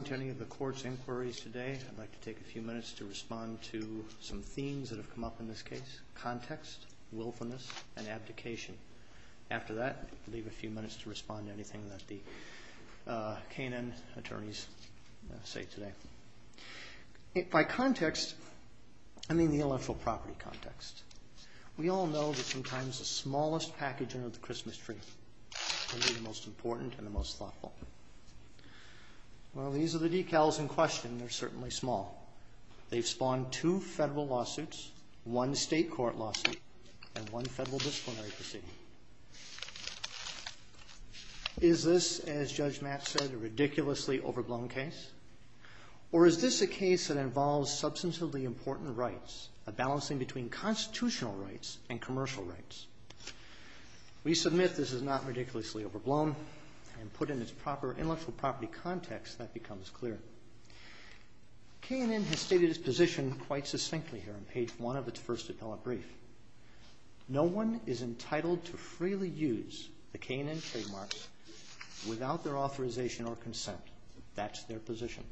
Welcome to any of the court's inquiries today. I'd like to take a few minutes to respond to some themes that have come up in this case, context, willfulness, and abdication. After that, I'll leave a few minutes to respond to anything that the K and N attorneys say today. By context, I mean the intellectual property context. We all know that sometimes the smallest package under the Christmas tree can be the most important and the most thoughtful. Well, these are the decals in question. They're certainly small. They've spawned two federal lawsuits, one state court lawsuit, and one federal disciplinary proceeding. Is this, as Judge Matt said, a ridiculously overblown case? Or is this a case that involves substantively important rights, a balancing between constitutional rights and commercial rights? We submit this is not ridiculously overblown, and put in its proper intellectual property context, that becomes clear. K and N has stated its position quite succinctly here on page one of its first appellate brief. No one is entitled to freely use the K and N trademarks without their authorization or consent. That's their position.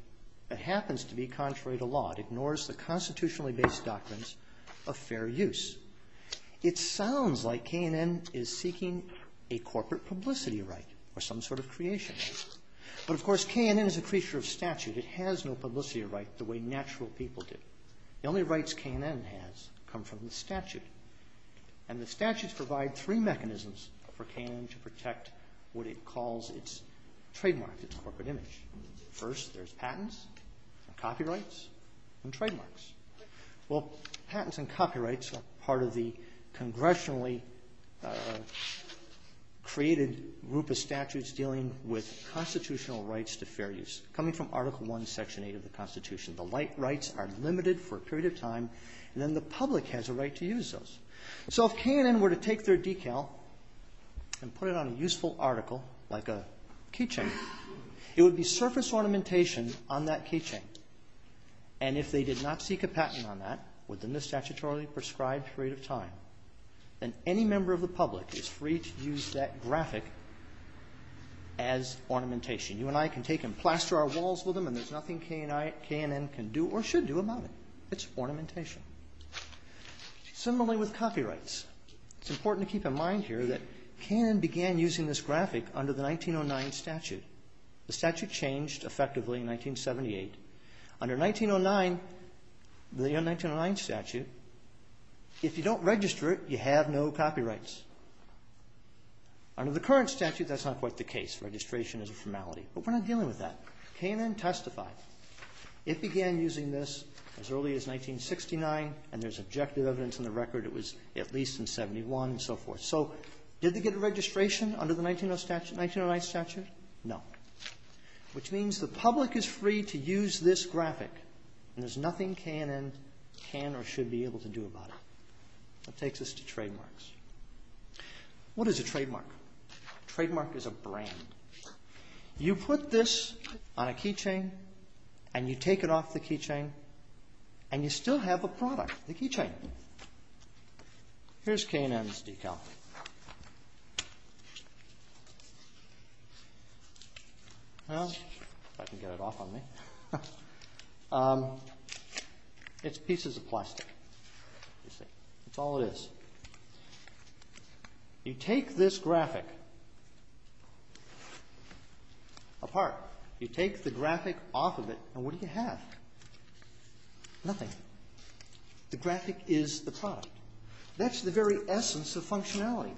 It happens to be contrary to law. It ignores the constitutionally based doctrines of fair use. It sounds like K and N is seeking a corporate publicity right or some sort of creation. But, of course, K and N is a creature of statute. It has no publicity right the way natural people do. The only rights K and N has come from the statute. And the statutes provide three mechanisms for K and N to protect what it calls its trademark, its corporate image. Well, patents and copyrights are part of the congressionally created group of statutes dealing with constitutional rights to fair use. Coming from Article I, Section 8 of the Constitution. The rights are limited for a period of time, and then the public has a right to use those. So if K and N were to take their decal and put it on a useful article, like a keychain, it would be surface ornamentation on that keychain. And if they did not seek a patent on that within the statutorily prescribed period of time, then any member of the public is free to use that graphic as ornamentation. You and I can take and plaster our walls with them, and there's nothing K and N can do or should do about it. It's ornamentation. Similarly with copyrights. It's important to keep in mind here that K and N began using this graphic under the 1909 statute. The statute changed effectively in 1978. Under 1909, the 1909 statute, if you don't register it, you have no copyrights. Under the current statute, that's not quite the case. Registration is a formality. But we're not dealing with that. K and N testified. It began using this as early as 1969, and there's objective evidence in the record it was at least in 71 and so forth. So did they get a registration under the 1909 statute? No. Which means the public is free to use this graphic, and there's nothing K and N can or should be able to do about it. That takes us to trademarks. What is a trademark? A trademark is a brand. You put this on a keychain, and you take it off the keychain, and you still have a product, the keychain. Here's K and N's decal. Well, if I can get it off on me. It's pieces of plastic. That's all it is. You take this graphic apart. You take the graphic off of it, and what do you have? Nothing. The graphic is the product. That's the very essence of functionality.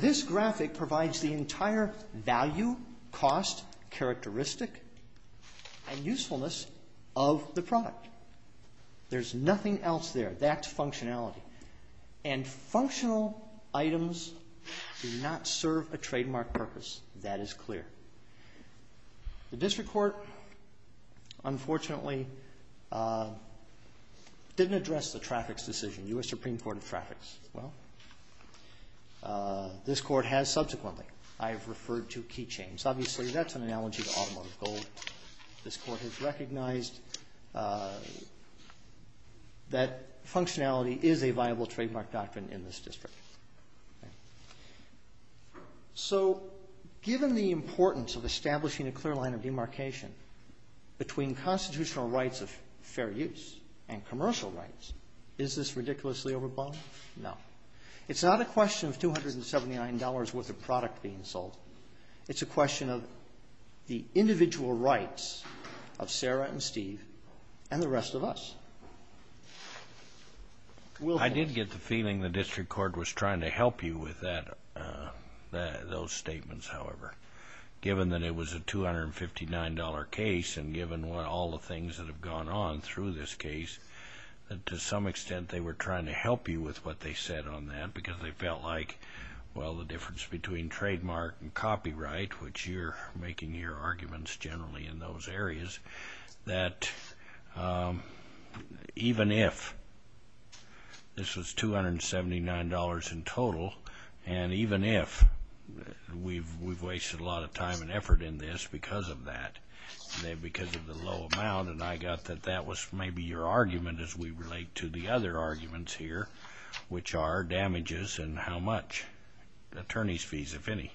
This graphic provides the entire value, cost, characteristic, and usefulness of the product. There's nothing else there. That's functionality. And functional items do not serve a trademark purpose. That is clear. The district court, unfortunately, didn't address the traffics decision, U.S. Supreme Court of Traffics. Well, this court has subsequently. I have referred to keychains. Obviously, that's an analogy to automotive gold. This court has recognized that functionality is a viable trademark doctrine in this district. So given the importance of establishing a clear line of demarcation between constitutional rights of fair use and commercial rights, is this ridiculously overbought? No. It's not a question of $279 worth of product being sold. It's a question of the individual rights of Sarah and Steve and the rest of us. I did get the feeling the district court was trying to help you with those statements, however. Given that it was a $259 case and given all the things that have gone on through this case, to some extent, they were trying to help you with what they said on that. Because they felt like, well, the difference between trademark and copyright, which you're making your arguments generally in those areas, that even if this was $279 in total, and even if we've wasted a lot of time and effort in this because of that, because of the low amount, and I got that that was maybe your argument as we relate to the other arguments here, which are damages and how much, attorney's fees, if any.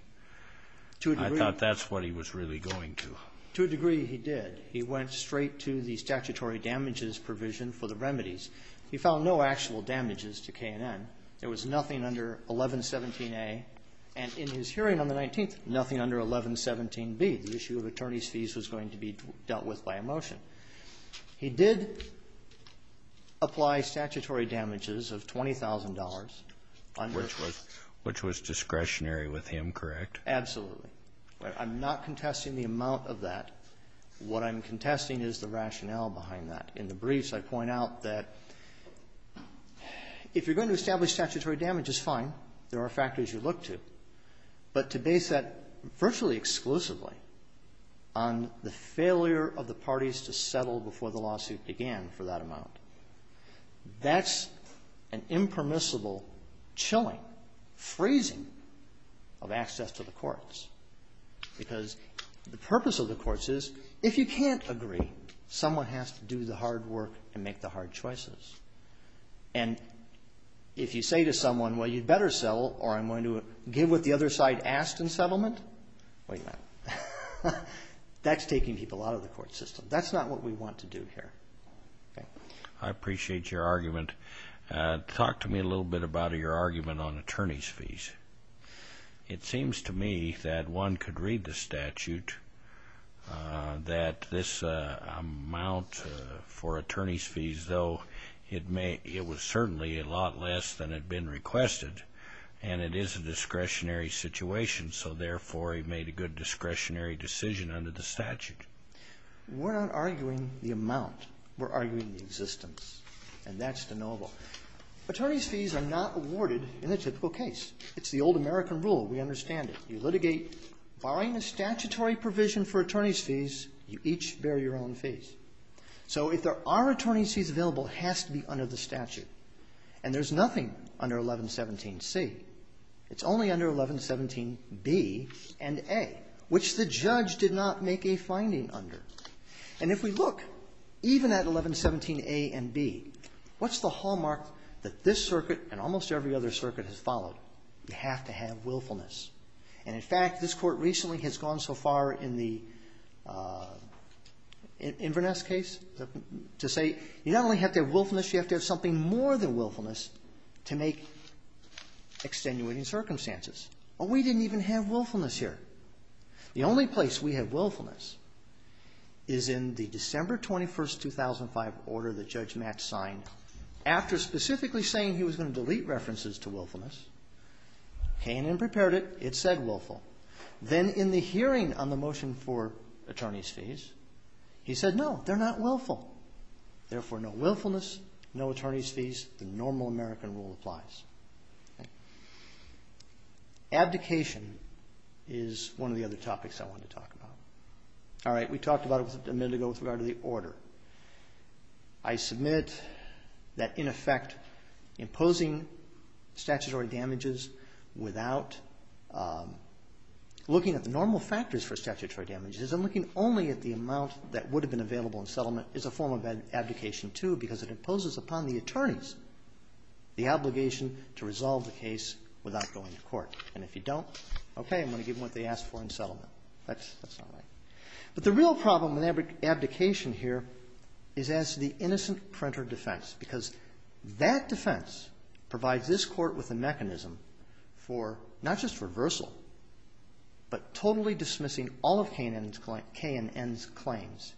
I thought that's what he was really going to. To a degree, he did. He went straight to the statutory damages provision for the remedies. He found no actual damages to K&N. There was nothing under 1117A. And in his hearing on the 19th, nothing under 1117B. He did apply statutory damages of $20,000. Kennedy. Which was discretionary with him, correct? Absolutely. I'm not contesting the amount of that. What I'm contesting is the rationale behind that. In the briefs, I point out that if you're going to establish statutory damage, it's fine. There are factors you look to. But to base that virtually exclusively on the failure of the parties to settle before the lawsuit began for that amount, that's an impermissible chilling phrasing of access to the courts. Because the purpose of the courts is if you can't agree, someone has to do the hard work and make the hard choices. And if you say to someone, well, you'd better settle or I'm going to give what the other side asked in settlement, wait a minute. That's taking people out of the court system. That's not what we want to do here. I appreciate your argument. Talk to me a little bit about your argument on attorney's fees. It seems to me that one could read the statute that this amount for attorney's fees, though, it was certainly a lot less than had been requested. And it is a discretionary situation. So, therefore, he made a good discretionary decision under the statute. We're not arguing the amount. We're arguing the existence. And that's deniable. Attorney's fees are not awarded in the typical case. It's the old American rule. We understand it. You litigate, borrowing a statutory provision for attorney's fees, you each bear your own fees. So if there are attorney's fees available, it has to be under the statute. And there's nothing under 1117C. It's only under 1117B and A, which the judge did not make a finding under. And if we look, even at 1117A and B, what's the hallmark that this circuit and almost every other circuit has followed? You have to have willfulness. And, in fact, this court recently has gone so far in the Inverness case to say you not only have to have willfulness, you have to have something more than willfulness to make extenuating circumstances. Well, we didn't even have willfulness here. The only place we have willfulness is in the December 21, 2005, order that Judge Matz signed after specifically saying he was going to delete references to willfulness. K&N prepared it. It said willful. Then in the hearing on the motion for attorney's fees, he said, no, they're not willful. Therefore, no willfulness, no attorney's fees. The normal American rule applies. Abdication is one of the other topics I want to talk about. All right, we talked about it a minute ago with regard to the order. I submit that, in effect, imposing statutory damages without looking at the normal factors for statutory damages and looking only at the amount that would have been available in settlement is a form of abdication, too, because it imposes upon the attorneys the obligation to resolve the case without going to court. And if you don't, okay, I'm going to give them what they asked for in settlement. That's not right. But the real problem with abdication here is as to the innocent printer defense because that defense provides this court with a mechanism for not just reversal but totally dismissing all of K&N's claims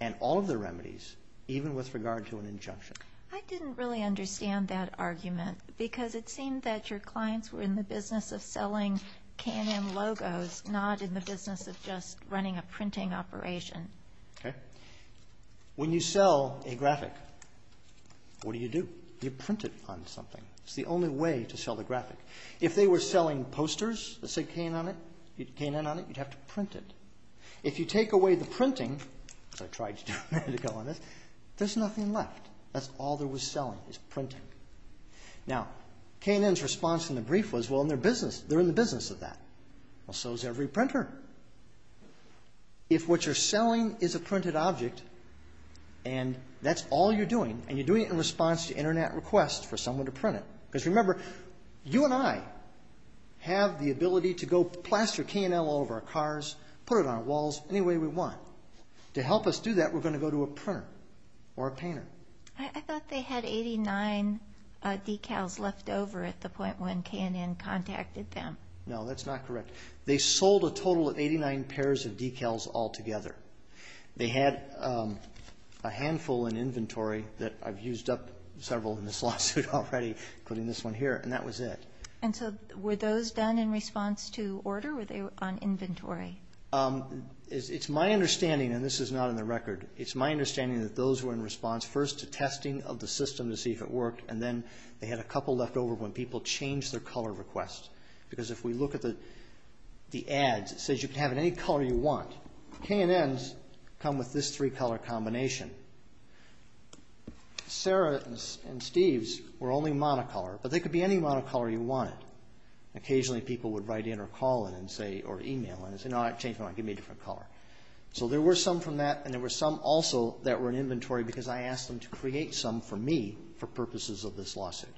and all of their remedies, even with regard to an injunction. I didn't really understand that argument because it seemed that your clients were in the business of selling K&N logos, not in the business of just running a printing operation. Okay. When you sell a graphic, what do you do? You print it on something. It's the only way to sell the graphic. If they were selling posters that said K&N on it, you'd have to print it. If you take away the printing, as I tried to do a minute ago on this, there's nothing left. That's all there was selling was printing. Now, K&N's response in the brief was, well, they're in the business of that. Well, so is every printer. If what you're selling is a printed object and that's all you're doing, and you're doing it in response to Internet requests for someone to print it, because remember, you and I have the ability to go plaster K&N all over our cars, put it on our walls, any way we want. To help us do that, we're going to go to a printer or a painter. I thought they had 89 decals left over at the point when K&N contacted them. No, that's not correct. They sold a total of 89 pairs of decals altogether. They had a handful in inventory that I've used up several in this lawsuit already, including this one here, and that was it. And so were those done in response to order? Were they on inventory? It's my understanding, and this is not in the record, it's my understanding that those were in response first to testing of the system to see if it worked, and then they had a couple left over when people changed their color requests. Because if we look at the ads, it says you can have it any color you want. K&N's come with this three-color combination. Sarah and Steve's were only monocolor, but they could be any monocolor you wanted. Occasionally, people would write in or call in and say, or email in and say, no, I changed my mind, give me a different color. So there were some from that, and there were some also that were in inventory because I asked them to create some for me for purposes of this lawsuit.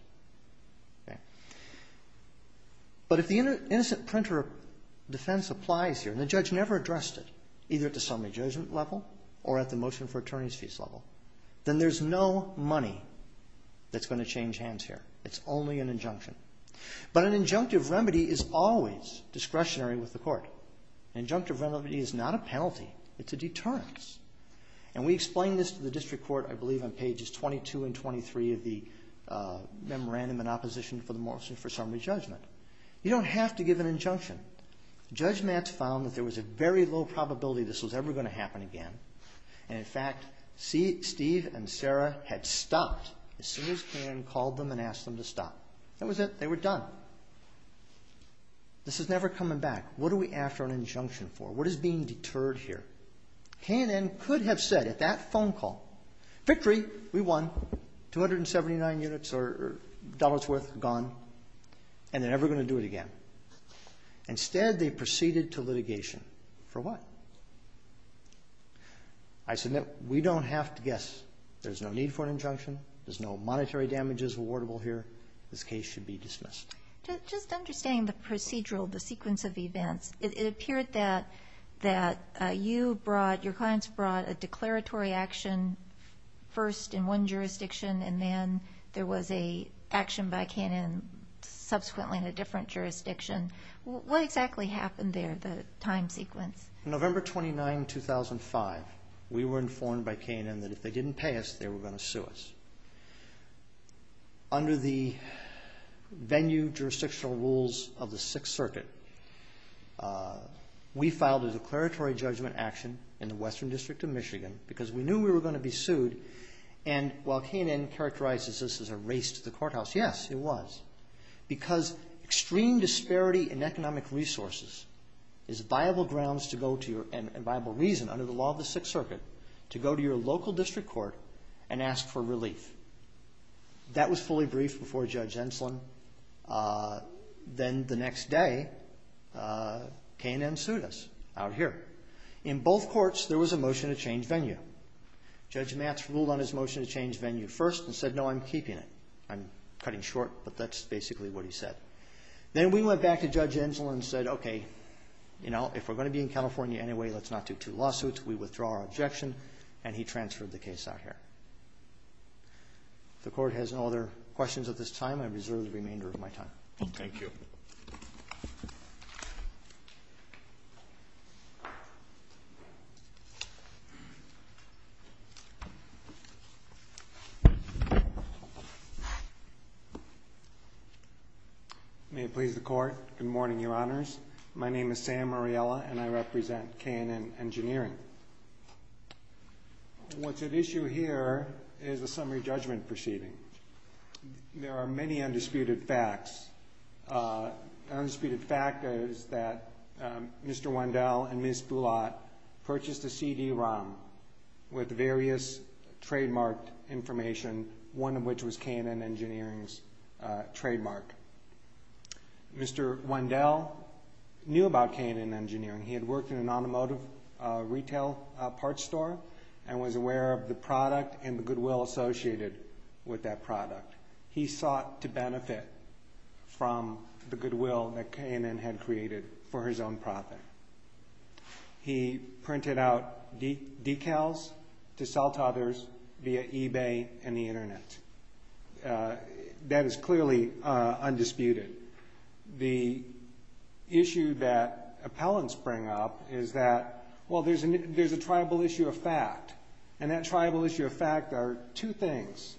But if the innocent printer defense applies here, and the judge never addressed it, either at the summary judgment level or at the motion for attorney's fees level, then there's no money that's going to change hands here. It's only an injunction. But an injunctive remedy is always discretionary with the court. An injunctive remedy is not a penalty. It's a deterrence. And we explain this to the district court, I believe, on pages 22 and 23 of the memorandum in opposition for the motion for summary judgment. You don't have to give an injunction. Judge Matz found that there was a very low probability this was ever going to happen again. And in fact, Steve and Sarah had stopped as soon as K&N called them and asked them to stop. That was it. They were done. This is never coming back. What are we after an injunction for? What is being deterred here? K&N could have said at that phone call, victory, we won, 279 units or dollars worth gone, and they're never going to do it again. Instead, they proceeded to litigation. For what? I submit we don't have to guess. There's no need for an injunction. There's no monetary damages awardable here. This case should be dismissed. Just understanding the procedural, the sequence of events, it appeared that you brought, your clients brought a declaratory action first in one jurisdiction, and then there was an action by K&N subsequently in a different jurisdiction. What exactly happened there, the time sequence? November 29, 2005, we were informed by K&N that if they didn't pay us, they were going to sue us. Under the venue jurisdictional rules of the Sixth Circuit, we filed a declaratory judgment action in the Western District of Michigan because we knew we were going to be sued, and while K&N characterizes this as a race to the courthouse, yes, it was, because extreme disparity in economic resources is viable grounds to go to and viable reason under the law of the Sixth Circuit to go to your local district court and ask for relief. That was fully briefed before Judge Enslin. Then the next day, K&N sued us out here. In both courts, there was a motion to change venue. Judge Matz ruled on his motion to change venue first and said, no, I'm keeping it. I'm cutting short, but that's basically what he said. Then we went back to Judge Enslin and said, okay, you know, if we're going to be in California anyway, let's not do two lawsuits. We withdraw our objection, and he transferred the case out here. If the Court has no other questions at this time, I reserve the remainder of my time. Thank you. May it please the Court. Good morning, Your Honors. My name is Sam Ariella, and I represent K&N Engineering. What's at issue here is a summary judgment proceeding. There are many undisputed facts. An undisputed fact is that Mr. Wendell and Ms. Boulat purchased a CD-ROM with various trademarked information, one of which was K&N Engineering's trademark. Mr. Wendell knew about K&N Engineering. He had worked in an automotive retail parts store and was aware of the product and the goodwill associated with that product. He sought to benefit from the goodwill that K&N had created for his own profit. He printed out decals to sell to others via eBay and the Internet. That is clearly undisputed. The issue that appellants bring up is that, well, there's a tribal issue of fact, and that tribal issue of fact are two things,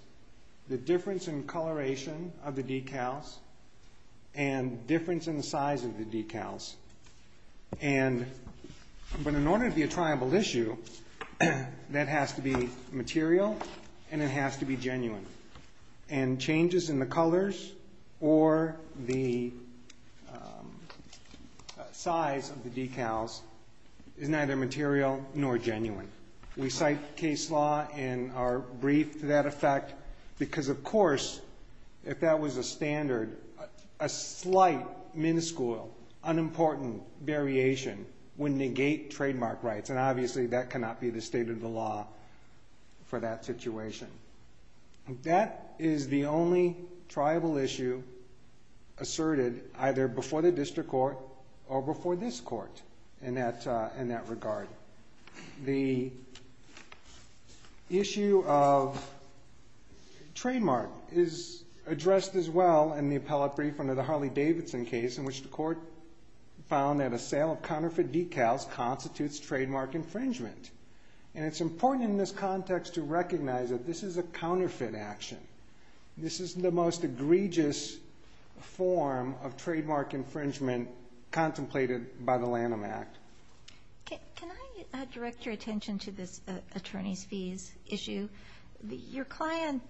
the difference in coloration of the decals and difference in the size of the decals. But in order to be a tribal issue, that has to be material and it has to be genuine. And changes in the colors or the size of the decals is neither material nor genuine. We cite case law in our brief to that effect because, of course, if that was a standard, a slight miniscule unimportant variation would negate trademark rights, and obviously that cannot be the state of the law for that situation. That is the only tribal issue asserted either before the district court or before this court in that regard. The issue of trademark is addressed as well in the appellate brief under the Harley-Davidson case in which the court found that a sale of counterfeit decals constitutes trademark infringement. And it's important in this context to recognize that this is a counterfeit action. This is the most egregious form of trademark infringement contemplated by the Lanham Act. Can I direct your attention to this attorney's fees issue? Your client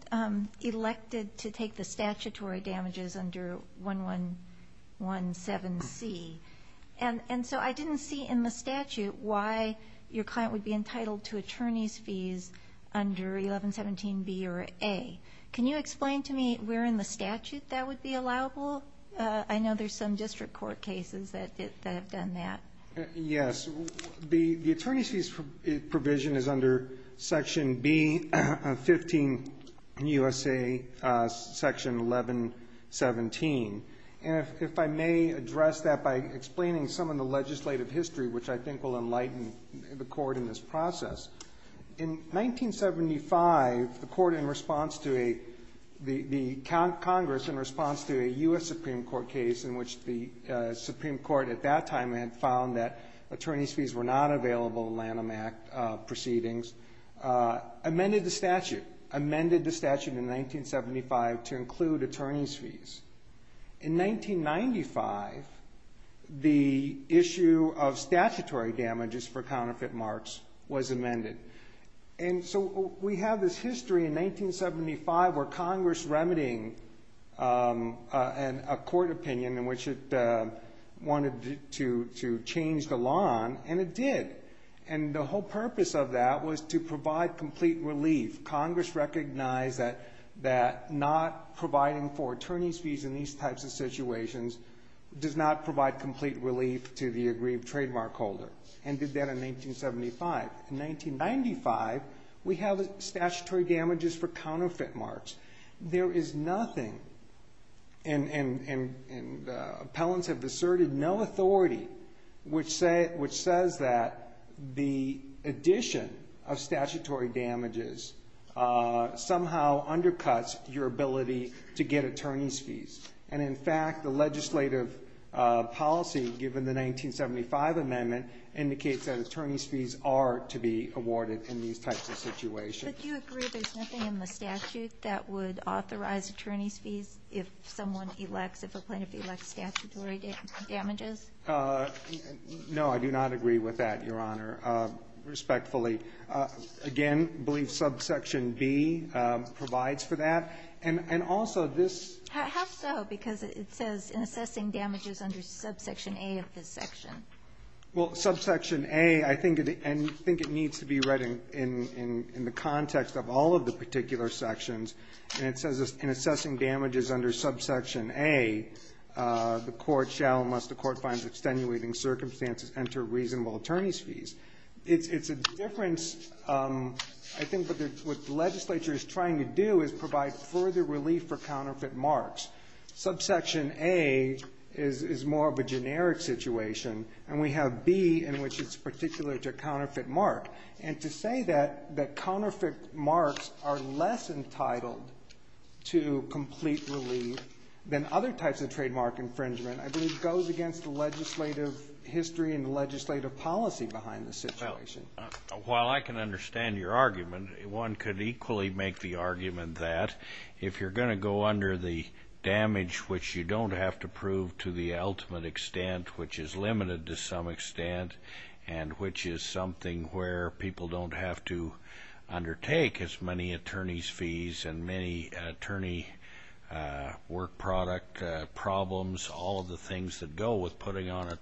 elected to take the statutory damages under 1117C, and so I didn't see in the statute why your client would be entitled to attorney's fees under 1117B or A. Can you explain to me where in the statute that would be allowable? I know there's some district court cases that have done that. Yes. The attorney's fees provision is under Section B, 15 USA, Section 1117. And if I may address that by explaining some of the legislative history, which I think will enlighten the court in this process. In 1975, the court in response to a the Congress in response to a U.S. Supreme Court case in which the Supreme Court at that time had found that attorney's fees were not available in Lanham Act proceedings, amended the statute, amended the statute in 1975 to include attorney's fees. In 1995, the issue of statutory damages for counterfeit marks was amended. And so we have this history in 1975 where Congress remedying a court opinion in which it wanted to change the law, and it did. And the whole purpose of that was to provide complete relief. Congress recognized that not providing for attorney's fees in these types of situations does not provide complete relief to the agreed trademark holder, and did that in 1975. In 1995, we have statutory damages for counterfeit marks. There is nothing, and appellants have asserted no authority, which says that the addition of statutory damages somehow undercuts your ability to get attorney's fees. And in fact, the legislative policy given the 1975 amendment indicates that attorney's fees are to be awarded in these types of situations. But do you agree there's nothing in the statute that would authorize attorney's fees if someone elects, if a plaintiff elects statutory damages? No, I do not agree with that, Your Honor, respectfully. Again, I believe subsection B provides for that. And also, this ---- How so? Because it says in assessing damages under subsection A of this section. Well, subsection A, I think it needs to be read in the context of all of the particular sections. And it says in assessing damages under subsection A, the court shall, unless the court finds extenuating circumstances, enter reasonable attorney's fees. It's a difference, I think, but what the legislature is trying to do is provide further relief for counterfeit marks. Subsection A is more of a generic situation, and we have B in which it's particular to counterfeit mark. And to say that counterfeit marks are less entitled to complete relief than other types of trademark infringement, I believe, goes against the legislative history and the legislative policy behind the situation. While I can understand your argument, one could equally make the argument that if you're going to go under the damage which you don't have to prove to the ultimate extent, which is limited to some extent, and which is something where people don't have to undertake as many attorney's fees and many attorney work product problems, all of the things that go with putting on a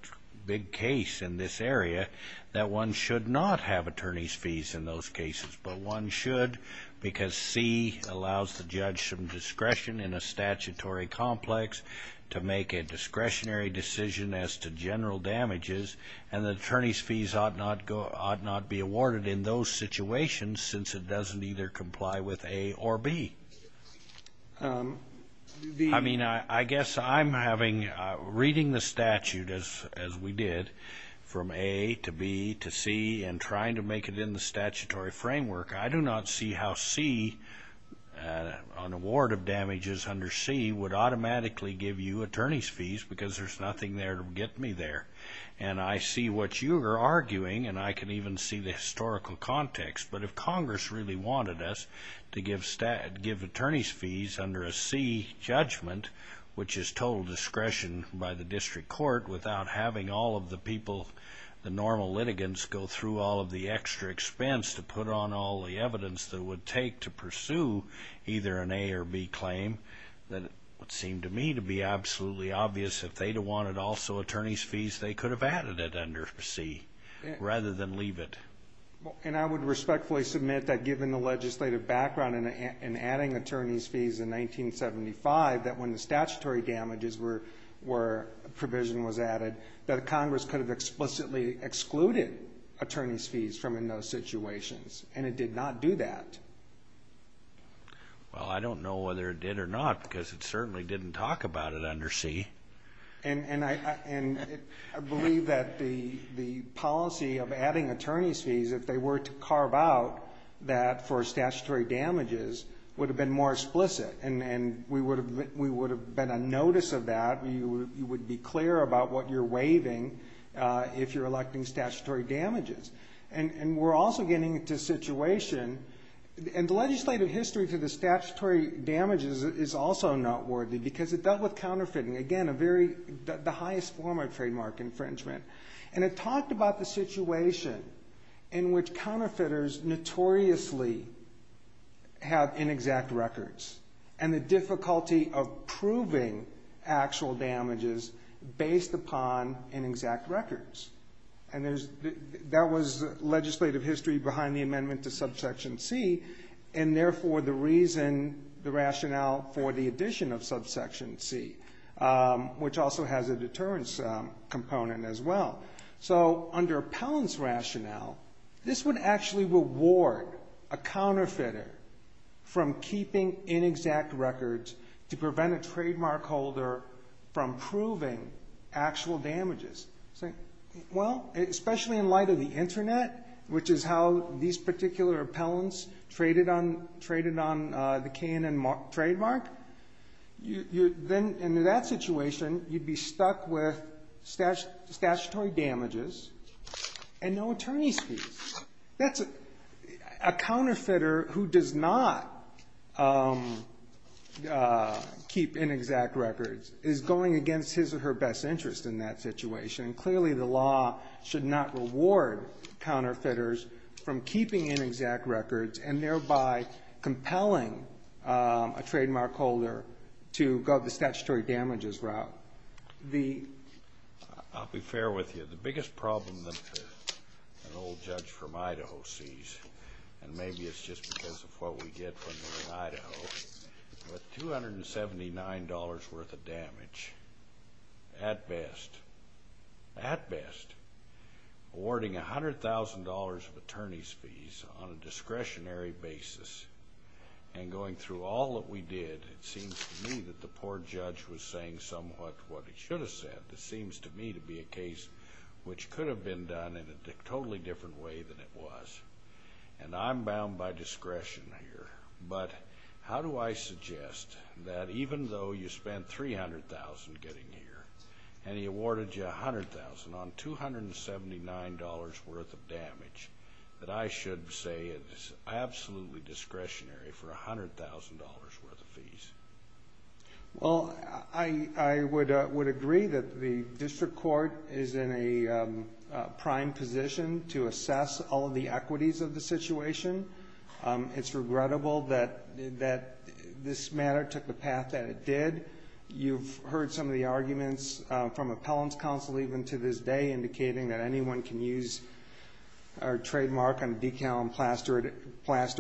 big case in this area, that one should not have attorney's fees in those cases. But one should because C allows the judge some discretion in a statutory complex to make a discretionary decision as to general damages, and the attorney's fees ought not be awarded in those situations since it doesn't either comply with A or B. I mean, I guess I'm reading the statute as we did from A to B to C and trying to make it in the statutory framework. I do not see how C, on award of damages under C, would automatically give you attorney's fees because there's nothing there to get me there. And I see what you're arguing, and I can even see the historical context. But if Congress really wanted us to give attorney's fees under a C judgment, which is total discretion by the district court, without having all of the people, the normal litigants, go through all of the extra expense to put on all the evidence that it would take to pursue either an A or B claim, then it would seem to me to be absolutely obvious if they wanted also attorney's fees, they could have added it under C rather than leave it. And I would respectfully submit that, given the legislative background in adding attorney's fees in 1975, that when the statutory damages provision was added, that Congress could have explicitly excluded attorney's fees from in those situations, and it did not do that. Well, I don't know whether it did or not because it certainly didn't talk about it under C. And I believe that the policy of adding attorney's fees, if they were to carve out that for statutory damages, would have been more explicit, and we would have been on notice of that. You would be clear about what you're waiving if you're electing statutory damages. And we're also getting into a situation, and the legislative history to the statutory damages is also noteworthy because it dealt with counterfeiting, again, the highest form of trademark infringement. And it talked about the situation in which counterfeiters notoriously have inexact records and the difficulty of proving actual damages based upon inexact records. And that was legislative history behind the amendment to Subsection C, and therefore the reason, the rationale for the addition of Subsection C, which also has a deterrence component as well. So under Appellant's rationale, this would actually reward a counterfeiter from keeping inexact records to prevent a trademark holder from proving actual damages. Well, especially in light of the Internet, which is how these particular appellants traded on the K&N trademark, then under that situation, you'd be stuck with statutory damages and no attorney's fees. That's a counterfeiter who does not keep inexact records is going against his or her best interest in that situation. Clearly, the law should not reward counterfeiters from keeping inexact records and thereby compelling a trademark holder to go the statutory damages route. The ---- I'll be fair with you. The biggest problem that an old judge from Idaho sees, and maybe it's just because of what we get when we're in Idaho, but $279 worth of damage, at best, at best, awarding $100,000 of attorney's fees on a discretionary basis and going through all that we did, it seems to me that the poor judge was saying somewhat what he should have said. It seems to me to be a case which could have been done in a totally different way than it was. And I'm bound by discretion here. But how do I suggest that even though you spent $300,000 getting here and he awarded you $100,000 on $279 worth of damage, that I should say it's absolutely discretionary for $100,000 worth of fees? Well, I would agree that the district court is in a prime position to assess all of the equities of the situation. It's regrettable that this matter took the path that it did. You've heard some of the arguments from appellant's counsel even to this day indicating that anyone can use our trademark on a decal and plaster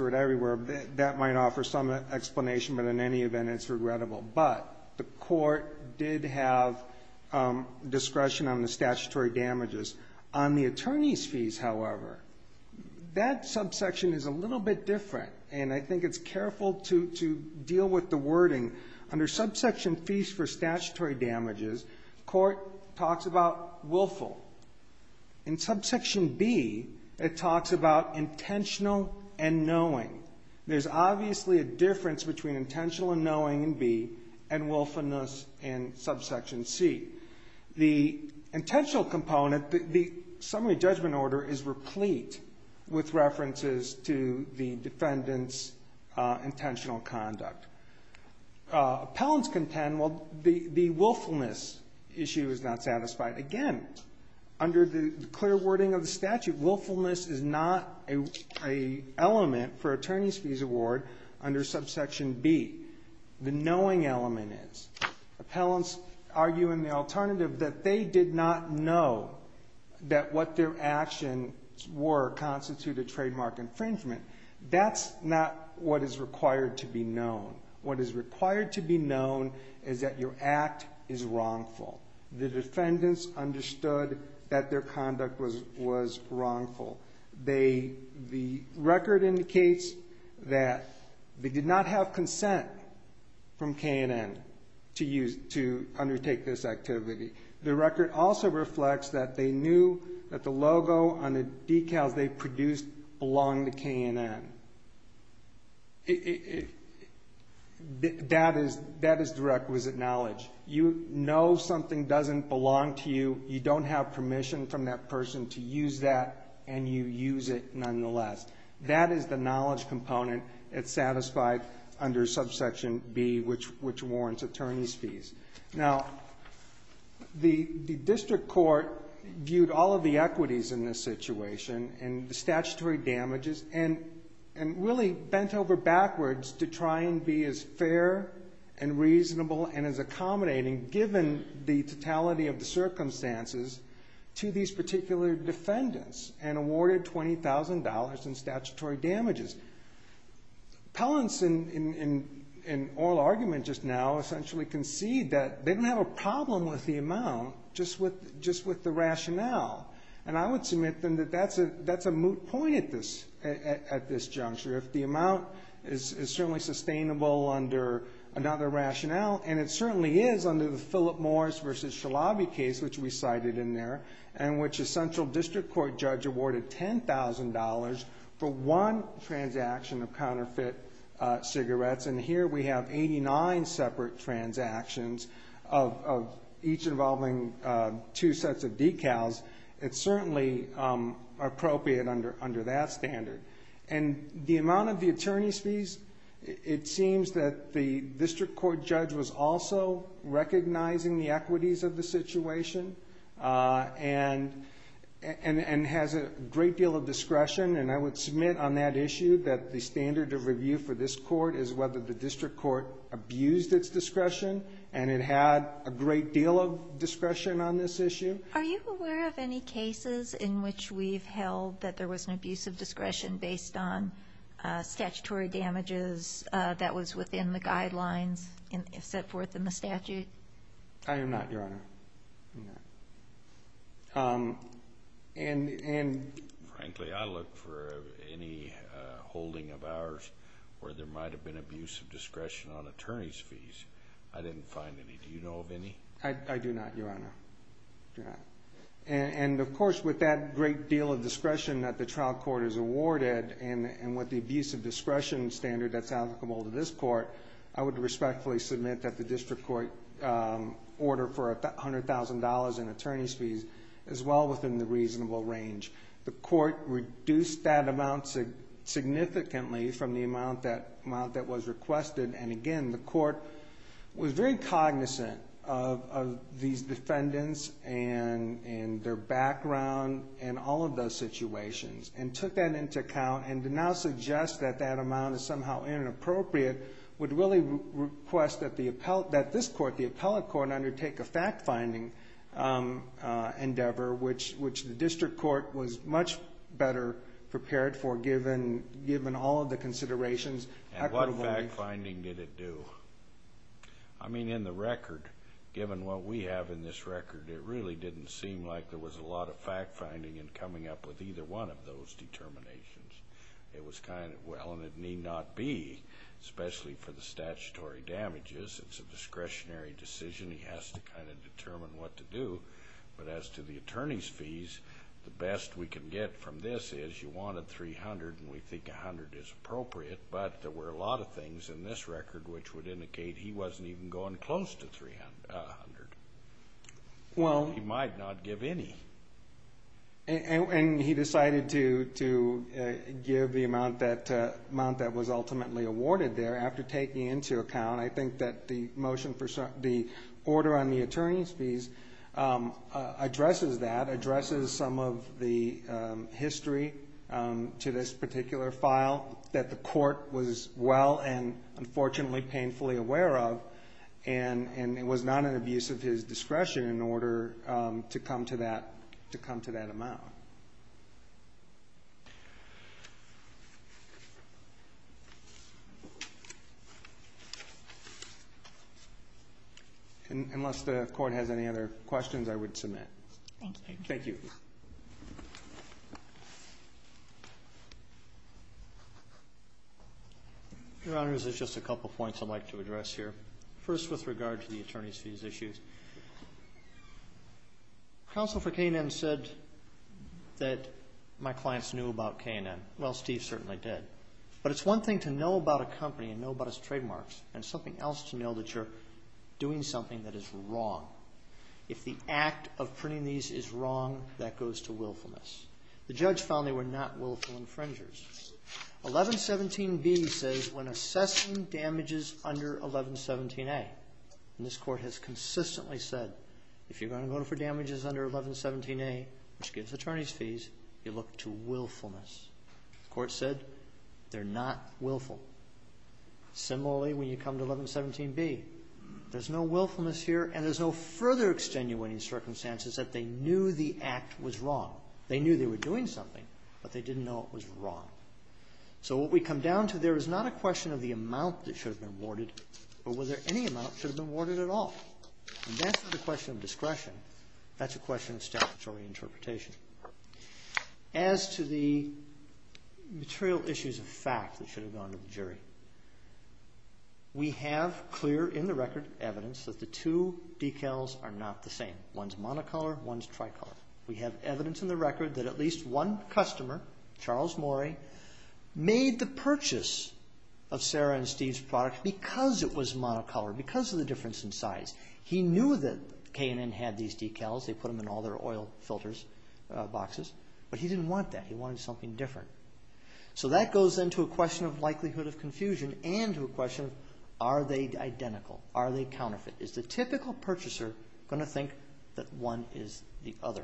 it everywhere. That might offer some explanation, but in any event, it's regrettable. But the court did have discretion on the statutory damages. On the attorney's fees, however, that subsection is a little bit different, and I think it's careful to deal with the wording. Under subsection fees for statutory damages, court talks about willful. In subsection B, it talks about intentional and knowing. There's obviously a difference between intentional and knowing in B and willfulness in subsection C. The intentional component, the summary judgment order is replete with references to the defendant's intentional conduct. Appellants contend, well, the willfulness issue is not satisfied. Again, under the clear wording of the statute, willfulness is not an element for attorney's fees award under subsection B. The knowing element is. Appellants argue in the alternative that they did not know that what their actions were constituted trademark infringement. That's not what is required to be known. What is required to be known is that your act is wrongful. The defendants understood that their conduct was wrongful. The record indicates that they did not have consent from K&N to undertake this activity. The record also reflects that they knew that the logo on the decals they produced belonged to K&N. That is the requisite knowledge. You know something doesn't belong to you. You don't have permission from that person to use that, and you use it nonetheless. That is the knowledge component. It's satisfied under subsection B, which warrants attorney's fees. Now, the district court viewed all of the equities in this situation and the statutory damages and really bent over backwards to try and be as fair and reasonable and as accommodating, given the totality of the circumstances, to these particular defendants and awarded $20,000 in statutory damages. Appellants in oral argument just now essentially concede that they don't have a problem with the amount, just with the rationale, and I would submit to them that that's a moot point at this juncture. If the amount is certainly sustainable under another rationale, and it certainly is under the Philip Morris v. Shalabi case, which we cited in there, in which a central district court judge awarded $10,000 for one transaction of counterfeit cigarettes, and here we have 89 separate transactions of each involving two sets of decals, it's certainly appropriate under that standard. And the amount of the attorney's fees, it seems that the district court judge was also recognizing the equities of the situation and has a great deal of discretion, and I would submit on that issue that the standard of review for this court is whether the district court abused its discretion, and it had a great deal of discretion on this issue. Are you aware of any cases in which we've held that there was an abuse of discretion based on statutory damages that was within the guidelines set forth in the statute? I am not, Your Honor. I'm not. Frankly, I look for any holding of ours where there might have been abuse of discretion on attorney's fees. I didn't find any. Do you know of any? I do not, Your Honor. I do not. And, of course, with that great deal of discretion that the trial court is awarded and with the abuse of discretion standard that's applicable to this court, I would respectfully submit that the district court ordered for $100,000 in attorney's fees as well within the reasonable range. The court reduced that amount significantly from the amount that was requested, and, again, the court was very cognizant of these defendants and their background and all of those situations and took that into account and to now suggest that that amount is somehow inappropriate would really request that this court, the appellate court, undertake a fact-finding endeavor, which the district court was much better prepared for given all of the considerations. And what fact-finding did it do? I mean, in the record, given what we have in this record, it really didn't seem like there was a lot of fact-finding in coming up with either one of those determinations. It was kind of, well, and it need not be, especially for the statutory damages. It's a discretionary decision. He has to kind of determine what to do. But as to the attorney's fees, the best we can get from this is you wanted $300,000 and $300,000 is appropriate, but there were a lot of things in this record which would indicate he wasn't even going close to $300,000. He might not give any. And he decided to give the amount that was ultimately awarded there. After taking it into account, I think that the order on the attorney's fees addresses that, addresses some of the history to this particular file that the court was well and unfortunately painfully aware of, and it was not an abuse of his discretion in order to come to that amount. Unless the court has any other questions, I would submit. Thank you. Thank you. Your Honors, there's just a couple points I'd like to address here. First, with regard to the attorney's fees issues. Counsel for K&N said that my clients knew about K&N. Well, Steve certainly did. But it's one thing to know about a company and know about its trademarks, and something else to know that you're doing something that is wrong. If the act of printing these is wrong, that goes to willfulness. The judge found they were not willful infringers. 1117B says, when assessing damages under 1117A, and this court has consistently said, if you're going to go for damages under 1117A, which gives attorney's fees, you look to willfulness. The court said they're not willful. Similarly, when you come to 1117B, there's no willfulness here, and there's no further extenuating circumstances that they knew the act was wrong. They knew they were doing something, but they didn't know it was wrong. So what we come down to, there is not a question of the amount that should have been awarded, or whether any amount should have been awarded at all. That's not a question of discretion. That's a question of statutory interpretation. As to the material issues of fact that should have gone to the jury, we have clear in the record evidence that the two decals are not the same. One's monocolor, one's tricolor. We have evidence in the record that at least one customer, Charles Morey, made the purchase of Sarah and Steve's product because it was monocolor, because of the difference in size. He knew that K&N had these decals. They put them in all their oil filters boxes, but he didn't want that. He wanted something different. So that goes into a question of likelihood of confusion and to a question of are they identical, are they counterfeit. Is the typical purchaser going to think that one is the other?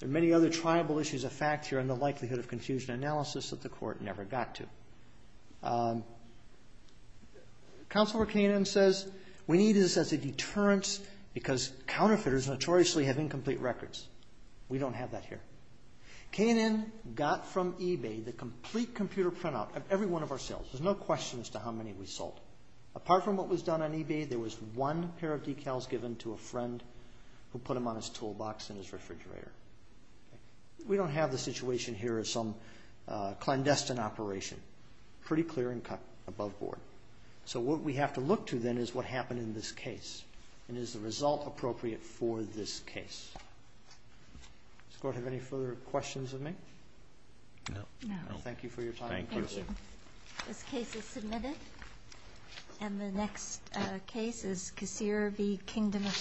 There are many other tribal issues of fact here and the likelihood of confusion analysis that the court never got to. Counselor K&N says we need this as a deterrence because counterfeiters notoriously have incomplete records. We don't have that here. K&N got from eBay the complete computer printout of every one of our sales. There's no question as to how many we sold. Apart from what was done on eBay, there was one pair of decals given to a friend who put them on his toolbox in his refrigerator. We don't have the situation here of some clandestine operation. Pretty clear and cut above board. So what we have to look to then is what happened in this case and is the result appropriate for this case. Does the court have any further questions of me? No. Thank you for your time. Thank you. This case is submitted. And the next case is Kisirvi, Kingdom of Spain.